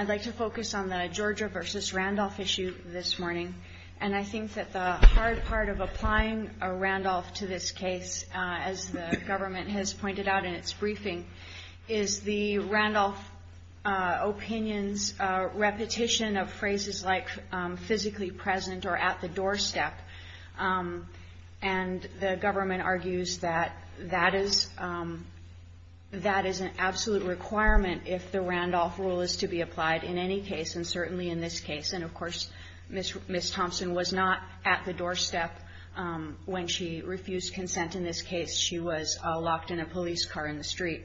I'd like to focus on the Georgia v. Randolph issue this morning, and I think that the hard part of applying a Randolph to this case, as the government has pointed out in its briefing, is the Randolph opinion's repetition of phrases like physically present or at the doorstep, and the government argues that that is an absolute requirement if the Randolph rule is to be applied in any case, and certainly in this case. And of course, Ms. Thompson was not at the doorstep when she refused consent in this case. She was locked in a police car in the street.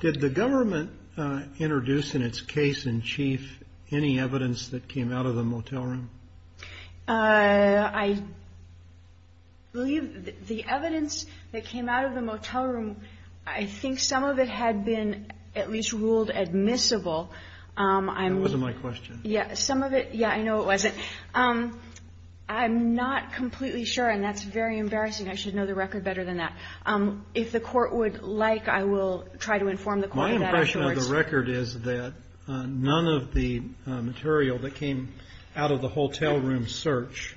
Did the government introduce in its case in chief any evidence that came out of the motel room? THOMPSON I believe the evidence that came out of the motel room, I think some of it had been at least ruled admissible. I'm not completely sure, and that's very embarrassing. I should know the record is that none of the material that came out of the motel room search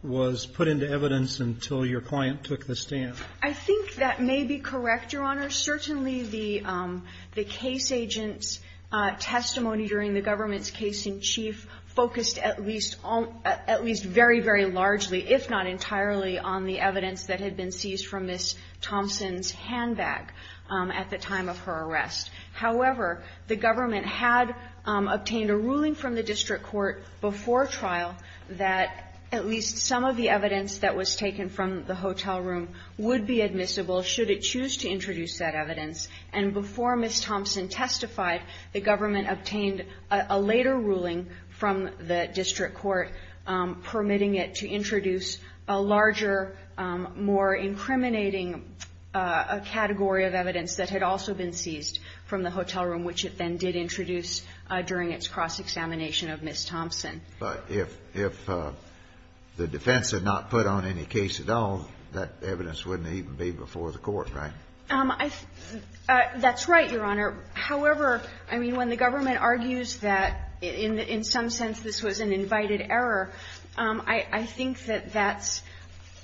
was put into evidence until your client took the stand. KOTLER I think that may be correct, Your Honor. Certainly the case agent's testimony during the government's case in chief focused at least very, very largely, if not entirely, on the evidence that had been seized from Ms. Thompson's handbag at the time of her arrest. However, the government had obtained a ruling from the district court before trial that at least some of the evidence that was taken from the hotel room would be admissible should it choose to introduce that evidence. And before Ms. Thompson testified, the government obtained a later ruling from the district court permitting it to introduce a larger, more incriminating category of evidence that had also been seized from the hotel room, which it then did introduce during its cross-examination of Ms. Thompson. Kennedy But if the defense had not put on any case at all, that evidence wouldn't even be before the court, right? KOTLER That's right, Your Honor. However, I mean, when the government argues that in some sense this was an invited error, I think that that's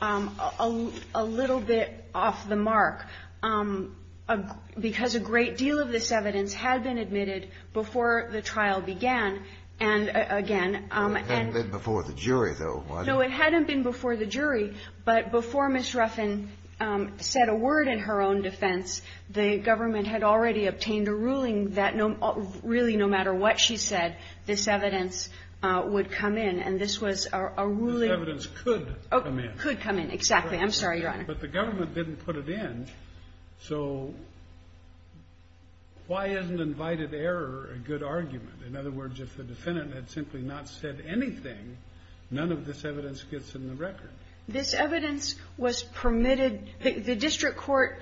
a little bit off the mark, because a great deal of this evidence had been admitted before the trial began. And, again, and the jury, though, it hadn't been before the jury, but before Ms. Ruffin said a word in her own defense, the government had already obtained a ruling that really, no matter what she said, this evidence would come in. And this was a ruling ---- Kennedy This evidence could come in. KOTLER Could come in, exactly. I'm sorry, Your Honor. Kennedy But the government didn't put it in, so why isn't invited error a good argument? In other words, if the defendant had simply not said anything, none of this evidence gets in the record. KOTLER This evidence was permitted the district court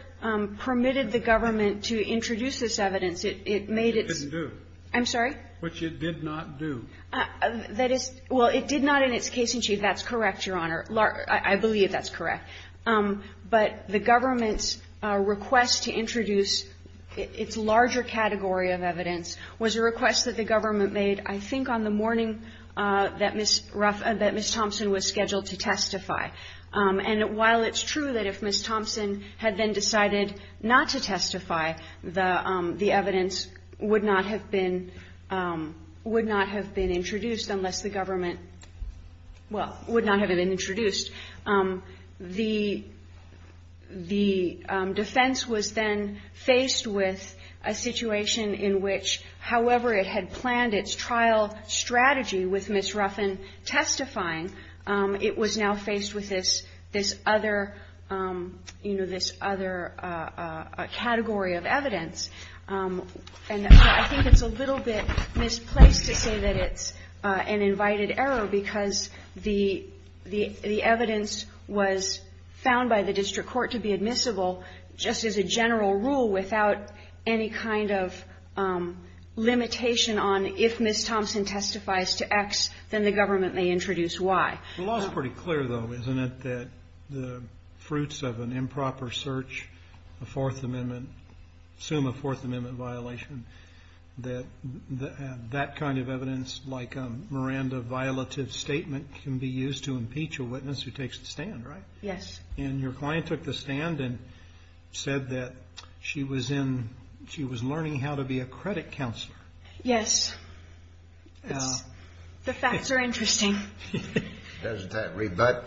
permitted the government to introduce this evidence. It made it ---- Kagan I'm sorry? Kennedy Which it did not do. KOTLER That is ---- well, it did not in its case in chief. That's correct, Your Honor. I believe that's correct. But the government's request to introduce its larger category of evidence was a request that the government made, I think, on the morning that Ms. Ruffin ---- that Ms. Thompson was scheduled to testify. And while it's true that if Ms. Ruffin had not been ---- would not have been introduced unless the government ---- well, would not have been introduced, the defense was then faced with a situation in which, however it had planned its trial strategy with Ms. Ruffin testifying, it was now faced with this other, you know, this other category of evidence. And I think it's a little bit misplaced to say that it's an invited error because the evidence was found by the district court to be admissible just as a general rule without any kind of limitation on if Ms. Thompson testifies to X, then the government may introduce Y. Kennedy The law is pretty clear, though, isn't it, that the fruits of an improper search, a Fourth Amendment ---- assume a Fourth Amendment violation, that that kind of evidence, like a Miranda violative statement, can be used to impeach a witness who takes the stand, right? Yes. And your client took the stand and said that she was in ---- she was learning how to be a credit counselor. Yes. The facts are interesting. Doesn't that rebut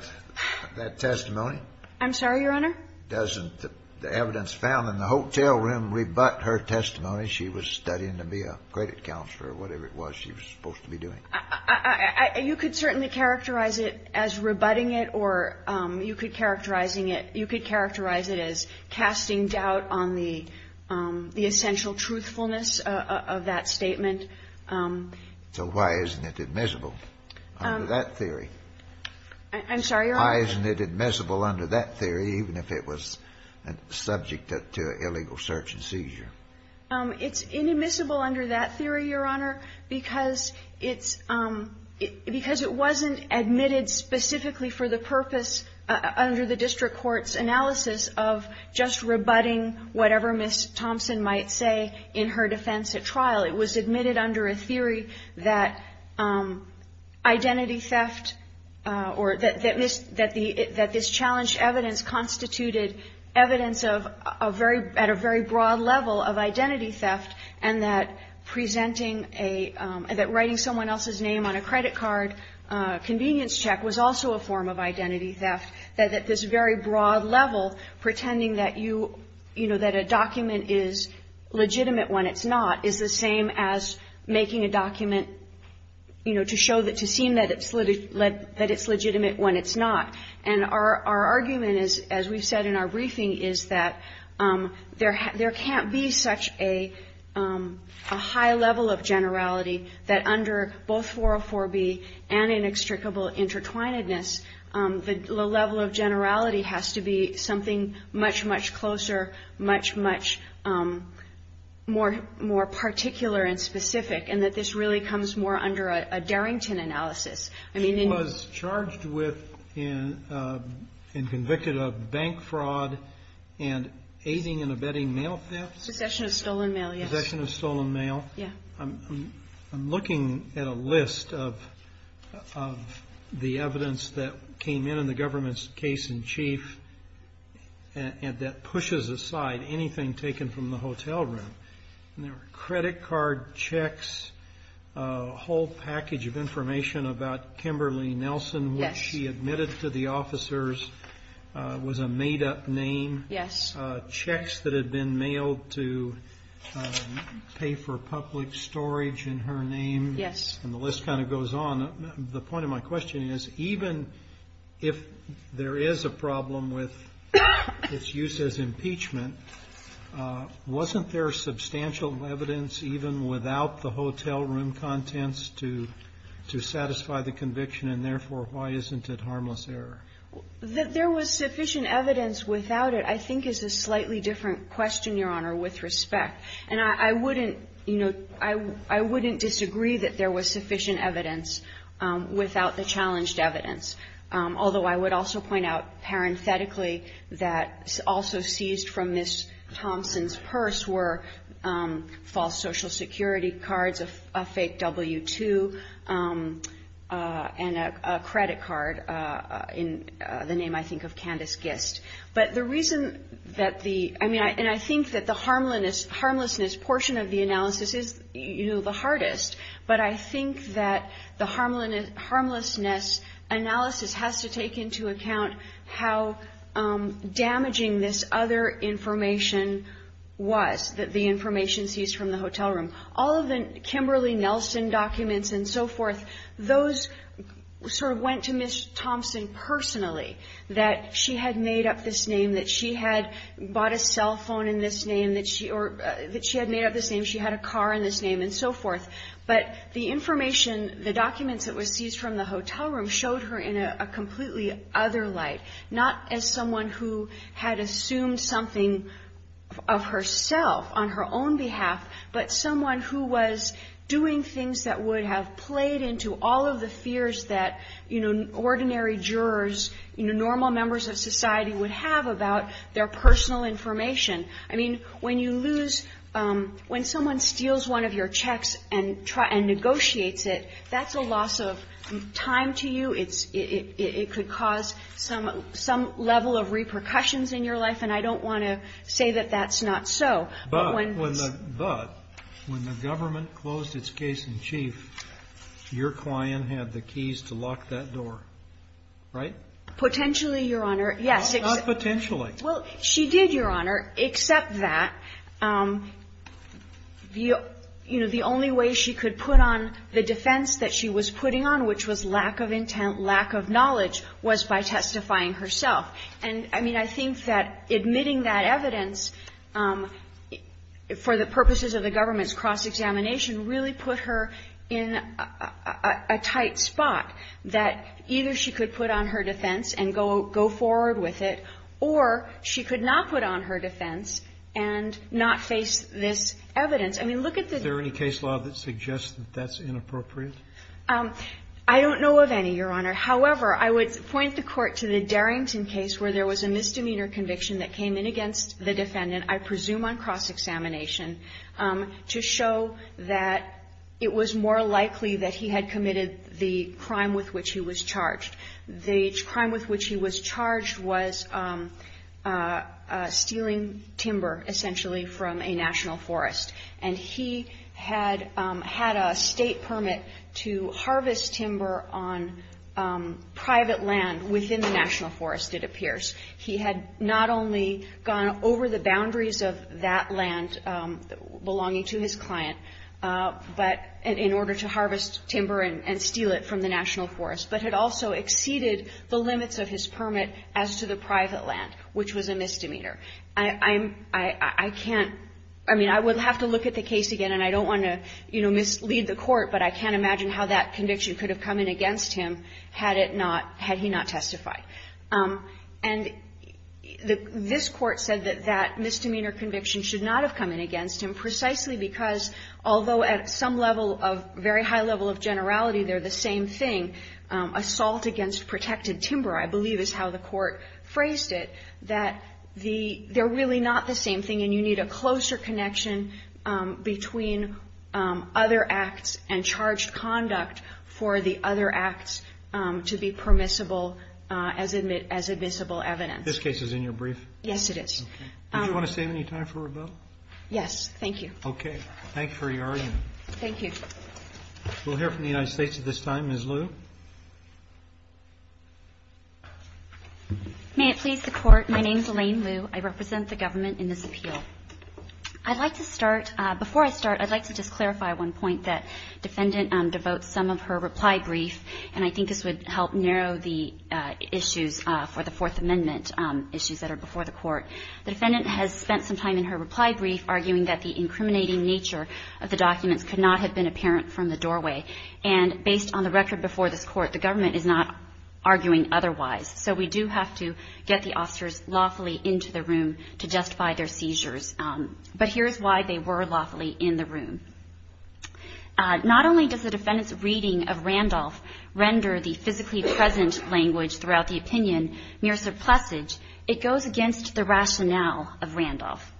that testimony? I'm sorry, Your Honor? Doesn't the evidence found in the hotel room rebut her testimony she was studying to be a credit counselor or whatever it was she was supposed to be doing? You could certainly characterize it as rebutting it or you could characterize it as casting doubt on the essential truthfulness of that statement. So why isn't it admissible under that theory? I'm sorry, Your Honor? Why isn't it admissible under that theory, even if it was subject to an illegal search and seizure? It's inadmissible under that theory, Your Honor, because it's ---- because it wasn't admitted specifically for the purpose under the district court's analysis of just rebutting whatever Ms. Thompson might say in her defense at trial. It was admitted under a theory that identity theft or that this ---- that this challenged evidence constituted evidence of a very ---- at a very broad level of identity theft and that presenting a ---- that writing someone else's name on a credit card convenience check was also a form of identity theft, that at this very broad level, pretending that you ---- you know, that a document is legitimate when it's not is the same as making a document, you know, to show that ---- to seem that it's legitimate when it's not. And our argument is, as we've said in our briefing, is that there can't be such a high level of generality that under both 404B and inextricable intertwinedness, the level of generality has to be something much, much closer, much, much more particular and specific, and that this really comes more under a Darrington analysis. I mean, in ---- Kennedy was charged with and convicted of bank fraud and aiding and abetting mail thefts. Possession of stolen mail, yes. Possession of stolen mail. Yes. I'm looking at a list of the evidence that came in in the government's case in chief and that pushes aside anything taken from the hotel room. And there were credit card checks, a whole package of information about Kimberly Nelson, which she admitted to the officers, was a made-up name. Yes. Checks that had been mailed to pay for public storage in her name. Yes. And the list kind of goes on. And the point of my question is, even if there is a problem with its use as impeachment, wasn't there substantial evidence even without the hotel room contents to satisfy the conviction, and therefore, why isn't it harmless error? That there was sufficient evidence without it, I think, is a slightly different question, Your Honor, with respect. And I wouldn't, you know, I wouldn't disagree that there was sufficient evidence without the challenged evidence. Although I would also point out, parenthetically, that also seized from Ms. Thompson's purse were false Social Security cards, a fake W-2, and a credit card in the name, I think, of Candace Gist. But the reason that the, I mean, and I think that the harmlessness portion of the analysis is, you know, the hardest. But I think that the harmlessness analysis has to take into account how damaging this other information was that the information seized from the hotel room. All of the Kimberly Nelson documents and so forth, those sort of went to Ms. Thompson, that she had made up this name, that she had bought a cell phone in this name, that she had made up this name, she had a car in this name, and so forth. But the information, the documents that were seized from the hotel room showed her in a completely other light. Not as someone who had assumed something of herself on her own behalf, but someone who was doing things that would have played into all of the fears that, you know, ordinary jurors, you know, normal members of society would have about their personal information. I mean, when you lose, when someone steals one of your checks and negotiates it, that's a loss of time to you. It could cause some level of repercussions in your life. And I don't want to say that that's not so. But when the government closed its case in chief, your client had the keys to lock that door, right? Potentially, Your Honor, yes. Not potentially. Well, she did, Your Honor, except that, you know, the only way she could put on the defense that she was putting on, which was lack of intent, lack of knowledge, was by testifying herself. And, I mean, I think that admitting that evidence for the purposes of the government's cross-examination really put her in a tight spot that either she could put on her defense and go forward with it, or she could not put on her defense and not face this evidence. I mean, look at the ---- Is there any case law that suggests that that's inappropriate? I don't know of any, Your Honor. However, I would point the Court to the Darrington case where there was a misdemeanor conviction that came in against the defendant, I presume on cross-examination, to show that it was more likely that he had committed the crime with which he was charged. The crime with which he was charged was stealing timber, essentially, from a national forest. And he had had a State permit to harvest timber on private land within the national forest, it appears. He had not only gone over the boundaries of that land belonging to his client, but in order to harvest timber and steal it from the national forest, but had also exceeded the limits of his permit as to the private land, which was a misdemeanor. I'm ---- I can't ---- I mean, I would have to look at the case again, and I don't want to, you know, mislead the Court, but I can't imagine how that conviction could have come in against him had it not ---- had he not testified. And this Court said that that misdemeanor conviction should not have come in against him precisely because, although at some level of very high level of generality they're the same thing, assault against protected timber, I believe is how the Court phrased it, that the ---- they're really not the same thing, and you need a closer connection between other acts and charged conduct for the other acts to be permissible as admissible evidence. This case is in your brief? Yes, it is. Okay. Did you want to save any time for rebuttal? Yes. Thank you. Okay. Thanks for your argument. Thank you. We'll hear from the United States at this time. Ms. Liu? May it please the Court, my name is Elaine Liu. I represent the government in this appeal. I'd like to start ---- before I start, I'd like to just clarify one point that defendant devotes some of her reply brief, and I think this would help narrow the issues for the Fourth Amendment, issues that are before the Court. The defendant has spent some time in her reply brief arguing that the incriminating nature of the documents could not have been apparent from the doorway. And based on the record before this Court, the government is not arguing otherwise. So we do have to get the officers lawfully into the room to justify their seizures. But here's why they were lawfully in the room. Not only does the defendant's reading of Randolph render the physically present language throughout the opinion mere surplusage, it goes against the rationale of Randolph.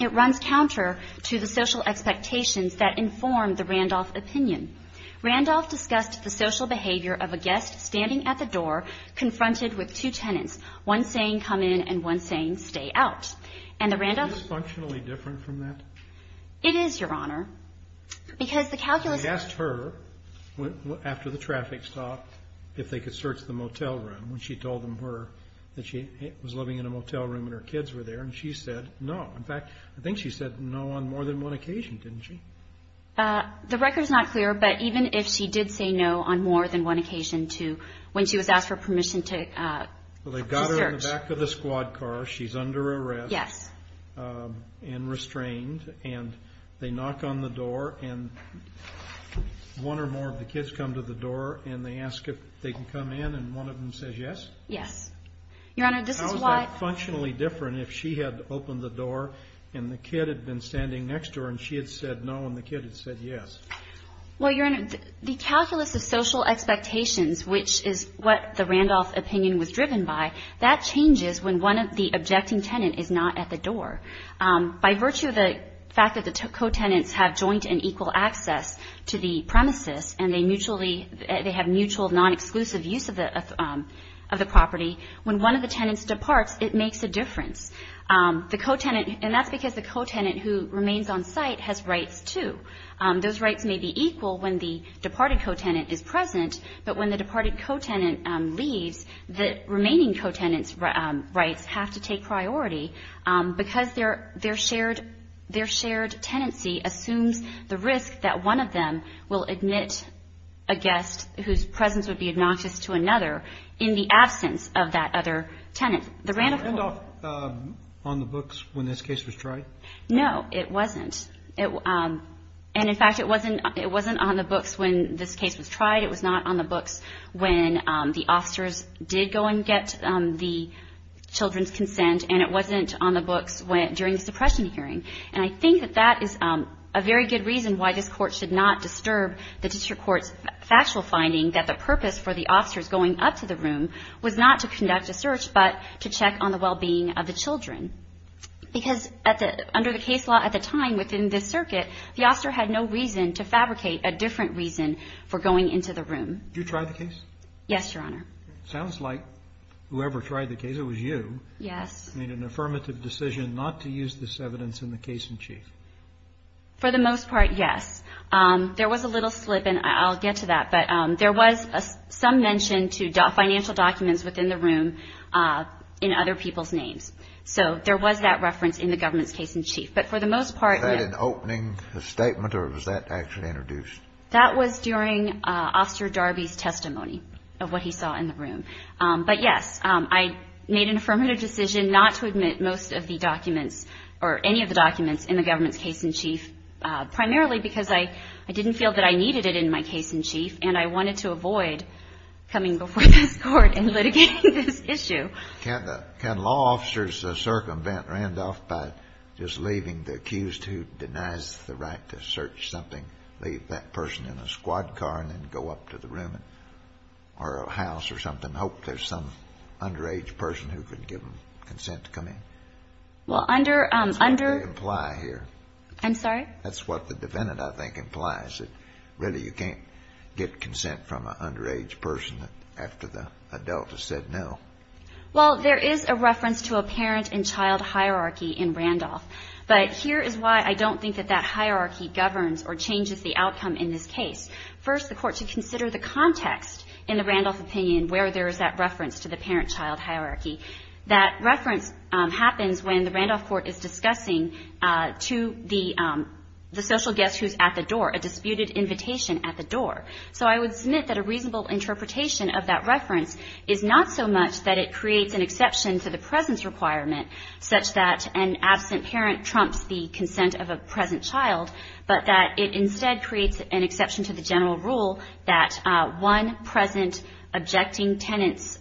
It runs counter to the social expectations that inform the Randolph opinion. Randolph discussed the social behavior of a guest standing at the door confronted with two tenants, one saying, come in, and one saying, stay out. And the Randolph ---- Is this functionally different from that? It is, Your Honor, because the calculus ---- I asked her after the traffic stop if they could search the motel room when she told them that she was living in a motel room and her kids were there, and she said no. In fact, I think she said no on more than one occasion, didn't she? The record is not clear, but even if she did say no on more than one occasion to when she was asked for permission to search ---- Well, they got her in the back of the squad car. She's under arrest. Yes. And restrained, and they knock on the door, and one or more of the kids come to the door, and they ask if they can come in, and one of them says yes? Yes. Your Honor, this is why ---- How is that functionally different if she had opened the door, and the kid had been standing next to her, and she had said no, and the kid had said yes? Well, Your Honor, the calculus of social expectations, which is what the Randolph opinion was driven by, that changes when one of the objecting tenants is not at the door. By virtue of the fact that the co-tenants have joint and equal access to the premises and they mutually ---- they have mutual, non-exclusive use of the property, when one of the tenants departs, it makes a difference. The co-tenant ---- and that's because the co-tenant who remains on site has rights, too. Those rights may be equal when the departed co-tenant is present, but when the departed co-tenant leaves, the remaining co-tenant's rights have to take priority because their shared tenancy assumes the risk that one of them will admit a guest whose presence would be obnoxious to another in the absence of that other tenant. The Randolph ---- Was Randolph on the books when this case was tried? No, it wasn't. And, in fact, it wasn't on the books when this case was tried. It was not on the books when the officers did go and get the children's consent, and it wasn't on the books during the suppression hearing. And I think that that is a very good reason why this Court should not disturb the district court's factual finding that the purpose for the officers going up to the room was not to conduct a search but to check on the well-being of the children. Because under the case law at the time within this circuit, the officer had no reason to fabricate a different reason for going into the room. Did you try the case? Yes, Your Honor. Sounds like whoever tried the case, it was you. Yes. Made an affirmative decision not to use this evidence in the case in chief. For the most part, yes. There was a little slip, and I'll get to that, but there was some mention to financial documents within the room in other people's names. So there was that reference in the government's case in chief. But for the most part, yes. Was that an opening statement, or was that actually introduced? That was during Officer Darby's testimony of what he saw in the room. But, yes, I made an affirmative decision not to admit most of the documents or any of the documents in the government's case in chief, primarily because I didn't feel that I needed it in my case in chief, and I wanted to avoid coming before this Court and litigating this issue. Can law officers circumvent Randolph by just leaving the accused who denies the right to search something, leave that person in a squad car and then go up to the room or a house or something, hope there's some underage person who could give them consent to come in? Well, under ‑‑ That's what they imply here. I'm sorry? That's what the defendant, I think, implies, that really you can't get consent from an underage person after the adult has said no. Well, there is a reference to a parent and child hierarchy in Randolph. But here is why I don't think that that hierarchy governs or changes the outcome in this case. First, the Court should consider the context in the Randolph opinion where there is that reference to the parent-child hierarchy. That reference happens when the Randolph Court is discussing to the social guest who is at the door, a disputed invitation at the door. So I would submit that a reasonable interpretation of that reference is not so much that it creates an exception to the presence requirement such that an absent parent trumps the consent of a present child, but that it instead creates an exception to the general rule that one present objecting tenant's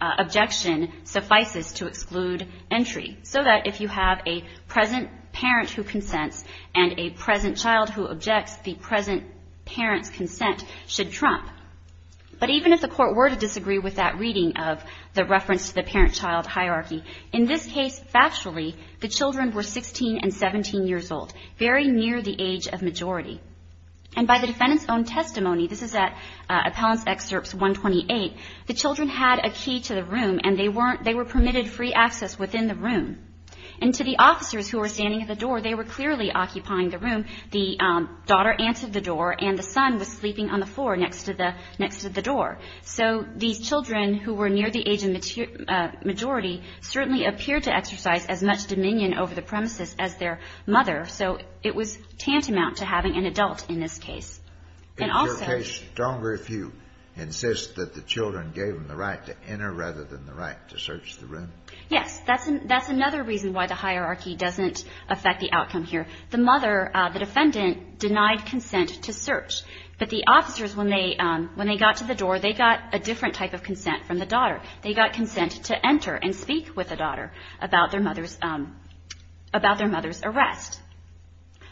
objection suffices to exclude entry. So that if you have a present parent who consents and a present child who objects, the present parent's consent should trump. But even if the Court were to disagree with that reading of the reference to the parent-child hierarchy, in this case, factually, the children were 16 and 17 years old, very near the age of majority. And by the defendant's own testimony, this is at Appellant's Excerpts 128, the children had a key to the room and they were permitted free access within the room. And to the officers who were standing at the door, they were clearly occupying the room. The daughter answered the door and the son was sleeping on the floor next to the door. So these children who were near the age of majority certainly appeared to exercise as much dominion over the premises as their mother. So it was tantamount to having an adult in this case. And also — Kennedy. Is your case stronger if you insist that the children gave them the right to enter rather than the right to search the room? Harrington. Yes. That's another reason why the hierarchy doesn't affect the outcome here. The mother, the defendant, denied consent to search. But the officers, when they got to the door, they got a different type of consent from the daughter. They got consent to enter and speak with the daughter about their mother's arrest.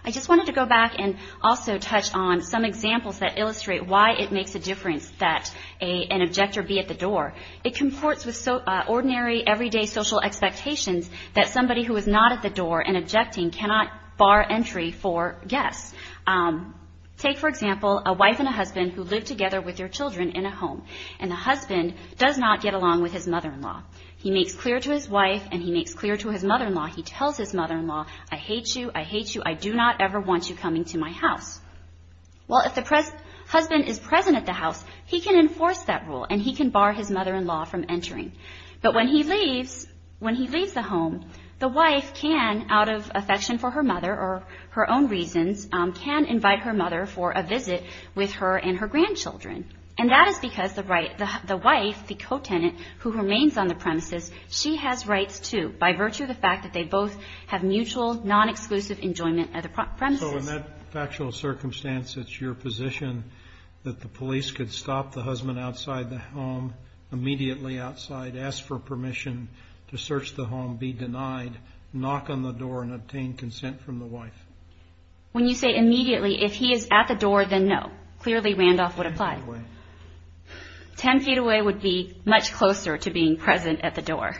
I just wanted to go back and also touch on some examples that illustrate why it makes a difference that an objector be at the door. It conforts with ordinary, everyday social expectations that somebody who is not at the door and objecting cannot bar entry for guests. Take, for example, a wife and a husband who live together with their children in a home. And the husband does not get along with his mother-in-law. He makes clear to his wife and he makes clear to his mother-in-law, he tells his mother-in-law, I hate you, I hate you, I do not ever want you coming to my house. Well, if the husband is present at the house, he can enforce that rule and he can bar his mother-in-law from entering. But when he leaves the home, the wife can, out of affection for her mother or her own reasons, can invite her mother for a visit with her and her grandchildren. And that is because the wife, the co-tenant, who remains on the premises, she has rights, too, by virtue of the fact that they both have mutual, non-exclusive enjoyment at the premises. So in that factual circumstance, it's your position that the police could stop the husband outside the home immediately outside, ask for permission to search the home, be denied, knock on the door, and obtain consent from the wife. When you say immediately, if he is at the door, then no. Clearly Randolph would apply. Ten feet away. Ten feet away would be much closer to being present at the door.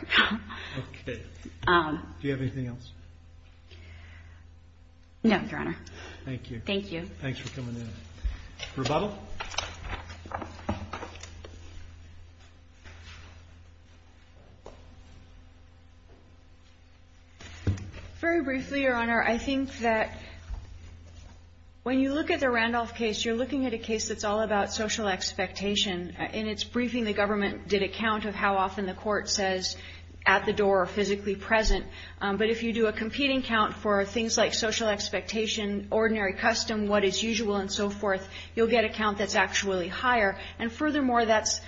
Okay. Do you have anything else? No, Your Honor. Thank you. Thank you. Thanks for coming in. Rebuttal? Very briefly, Your Honor. I think that when you look at the Randolph case, you're looking at a case that's all about social expectation. In its briefing, the government did a count of how often the court says at the door or physically present. But if you do a competing count for things like social expectation, ordinary custom, what is usual, and so forth, you'll get a count that's actually higher. And furthermore, that's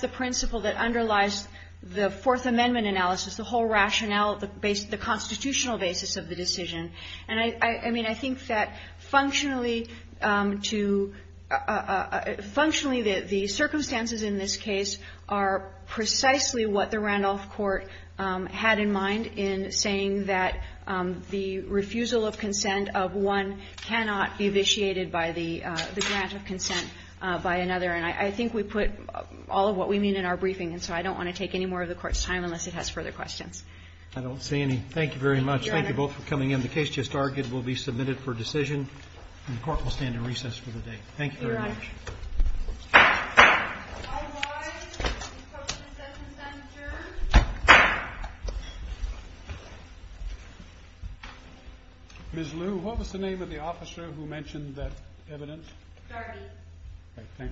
the principle that underlies the Fourth Amendment analysis, the whole rationale, the constitutional basis of the decision. And I mean, I think that functionally to – functionally, the circumstances in this case are precisely what the Randolph court had in mind in saying that the refusal of consent of one cannot be vitiated by the grant of consent by another. And I think we put all of what we mean in our briefing, and so I don't want to take any more of the Court's time unless it has further questions. I don't see any. Thank you very much. Thank you both for coming in. The case just argued will be submitted for decision, and the Court will stand in recess for the day. Thank you very much. Your Honor. All rise. The Court is in session, Senator. Ms. Lu, what was the name of the officer who mentioned that evidence? Darby. Thank you, Your Honor.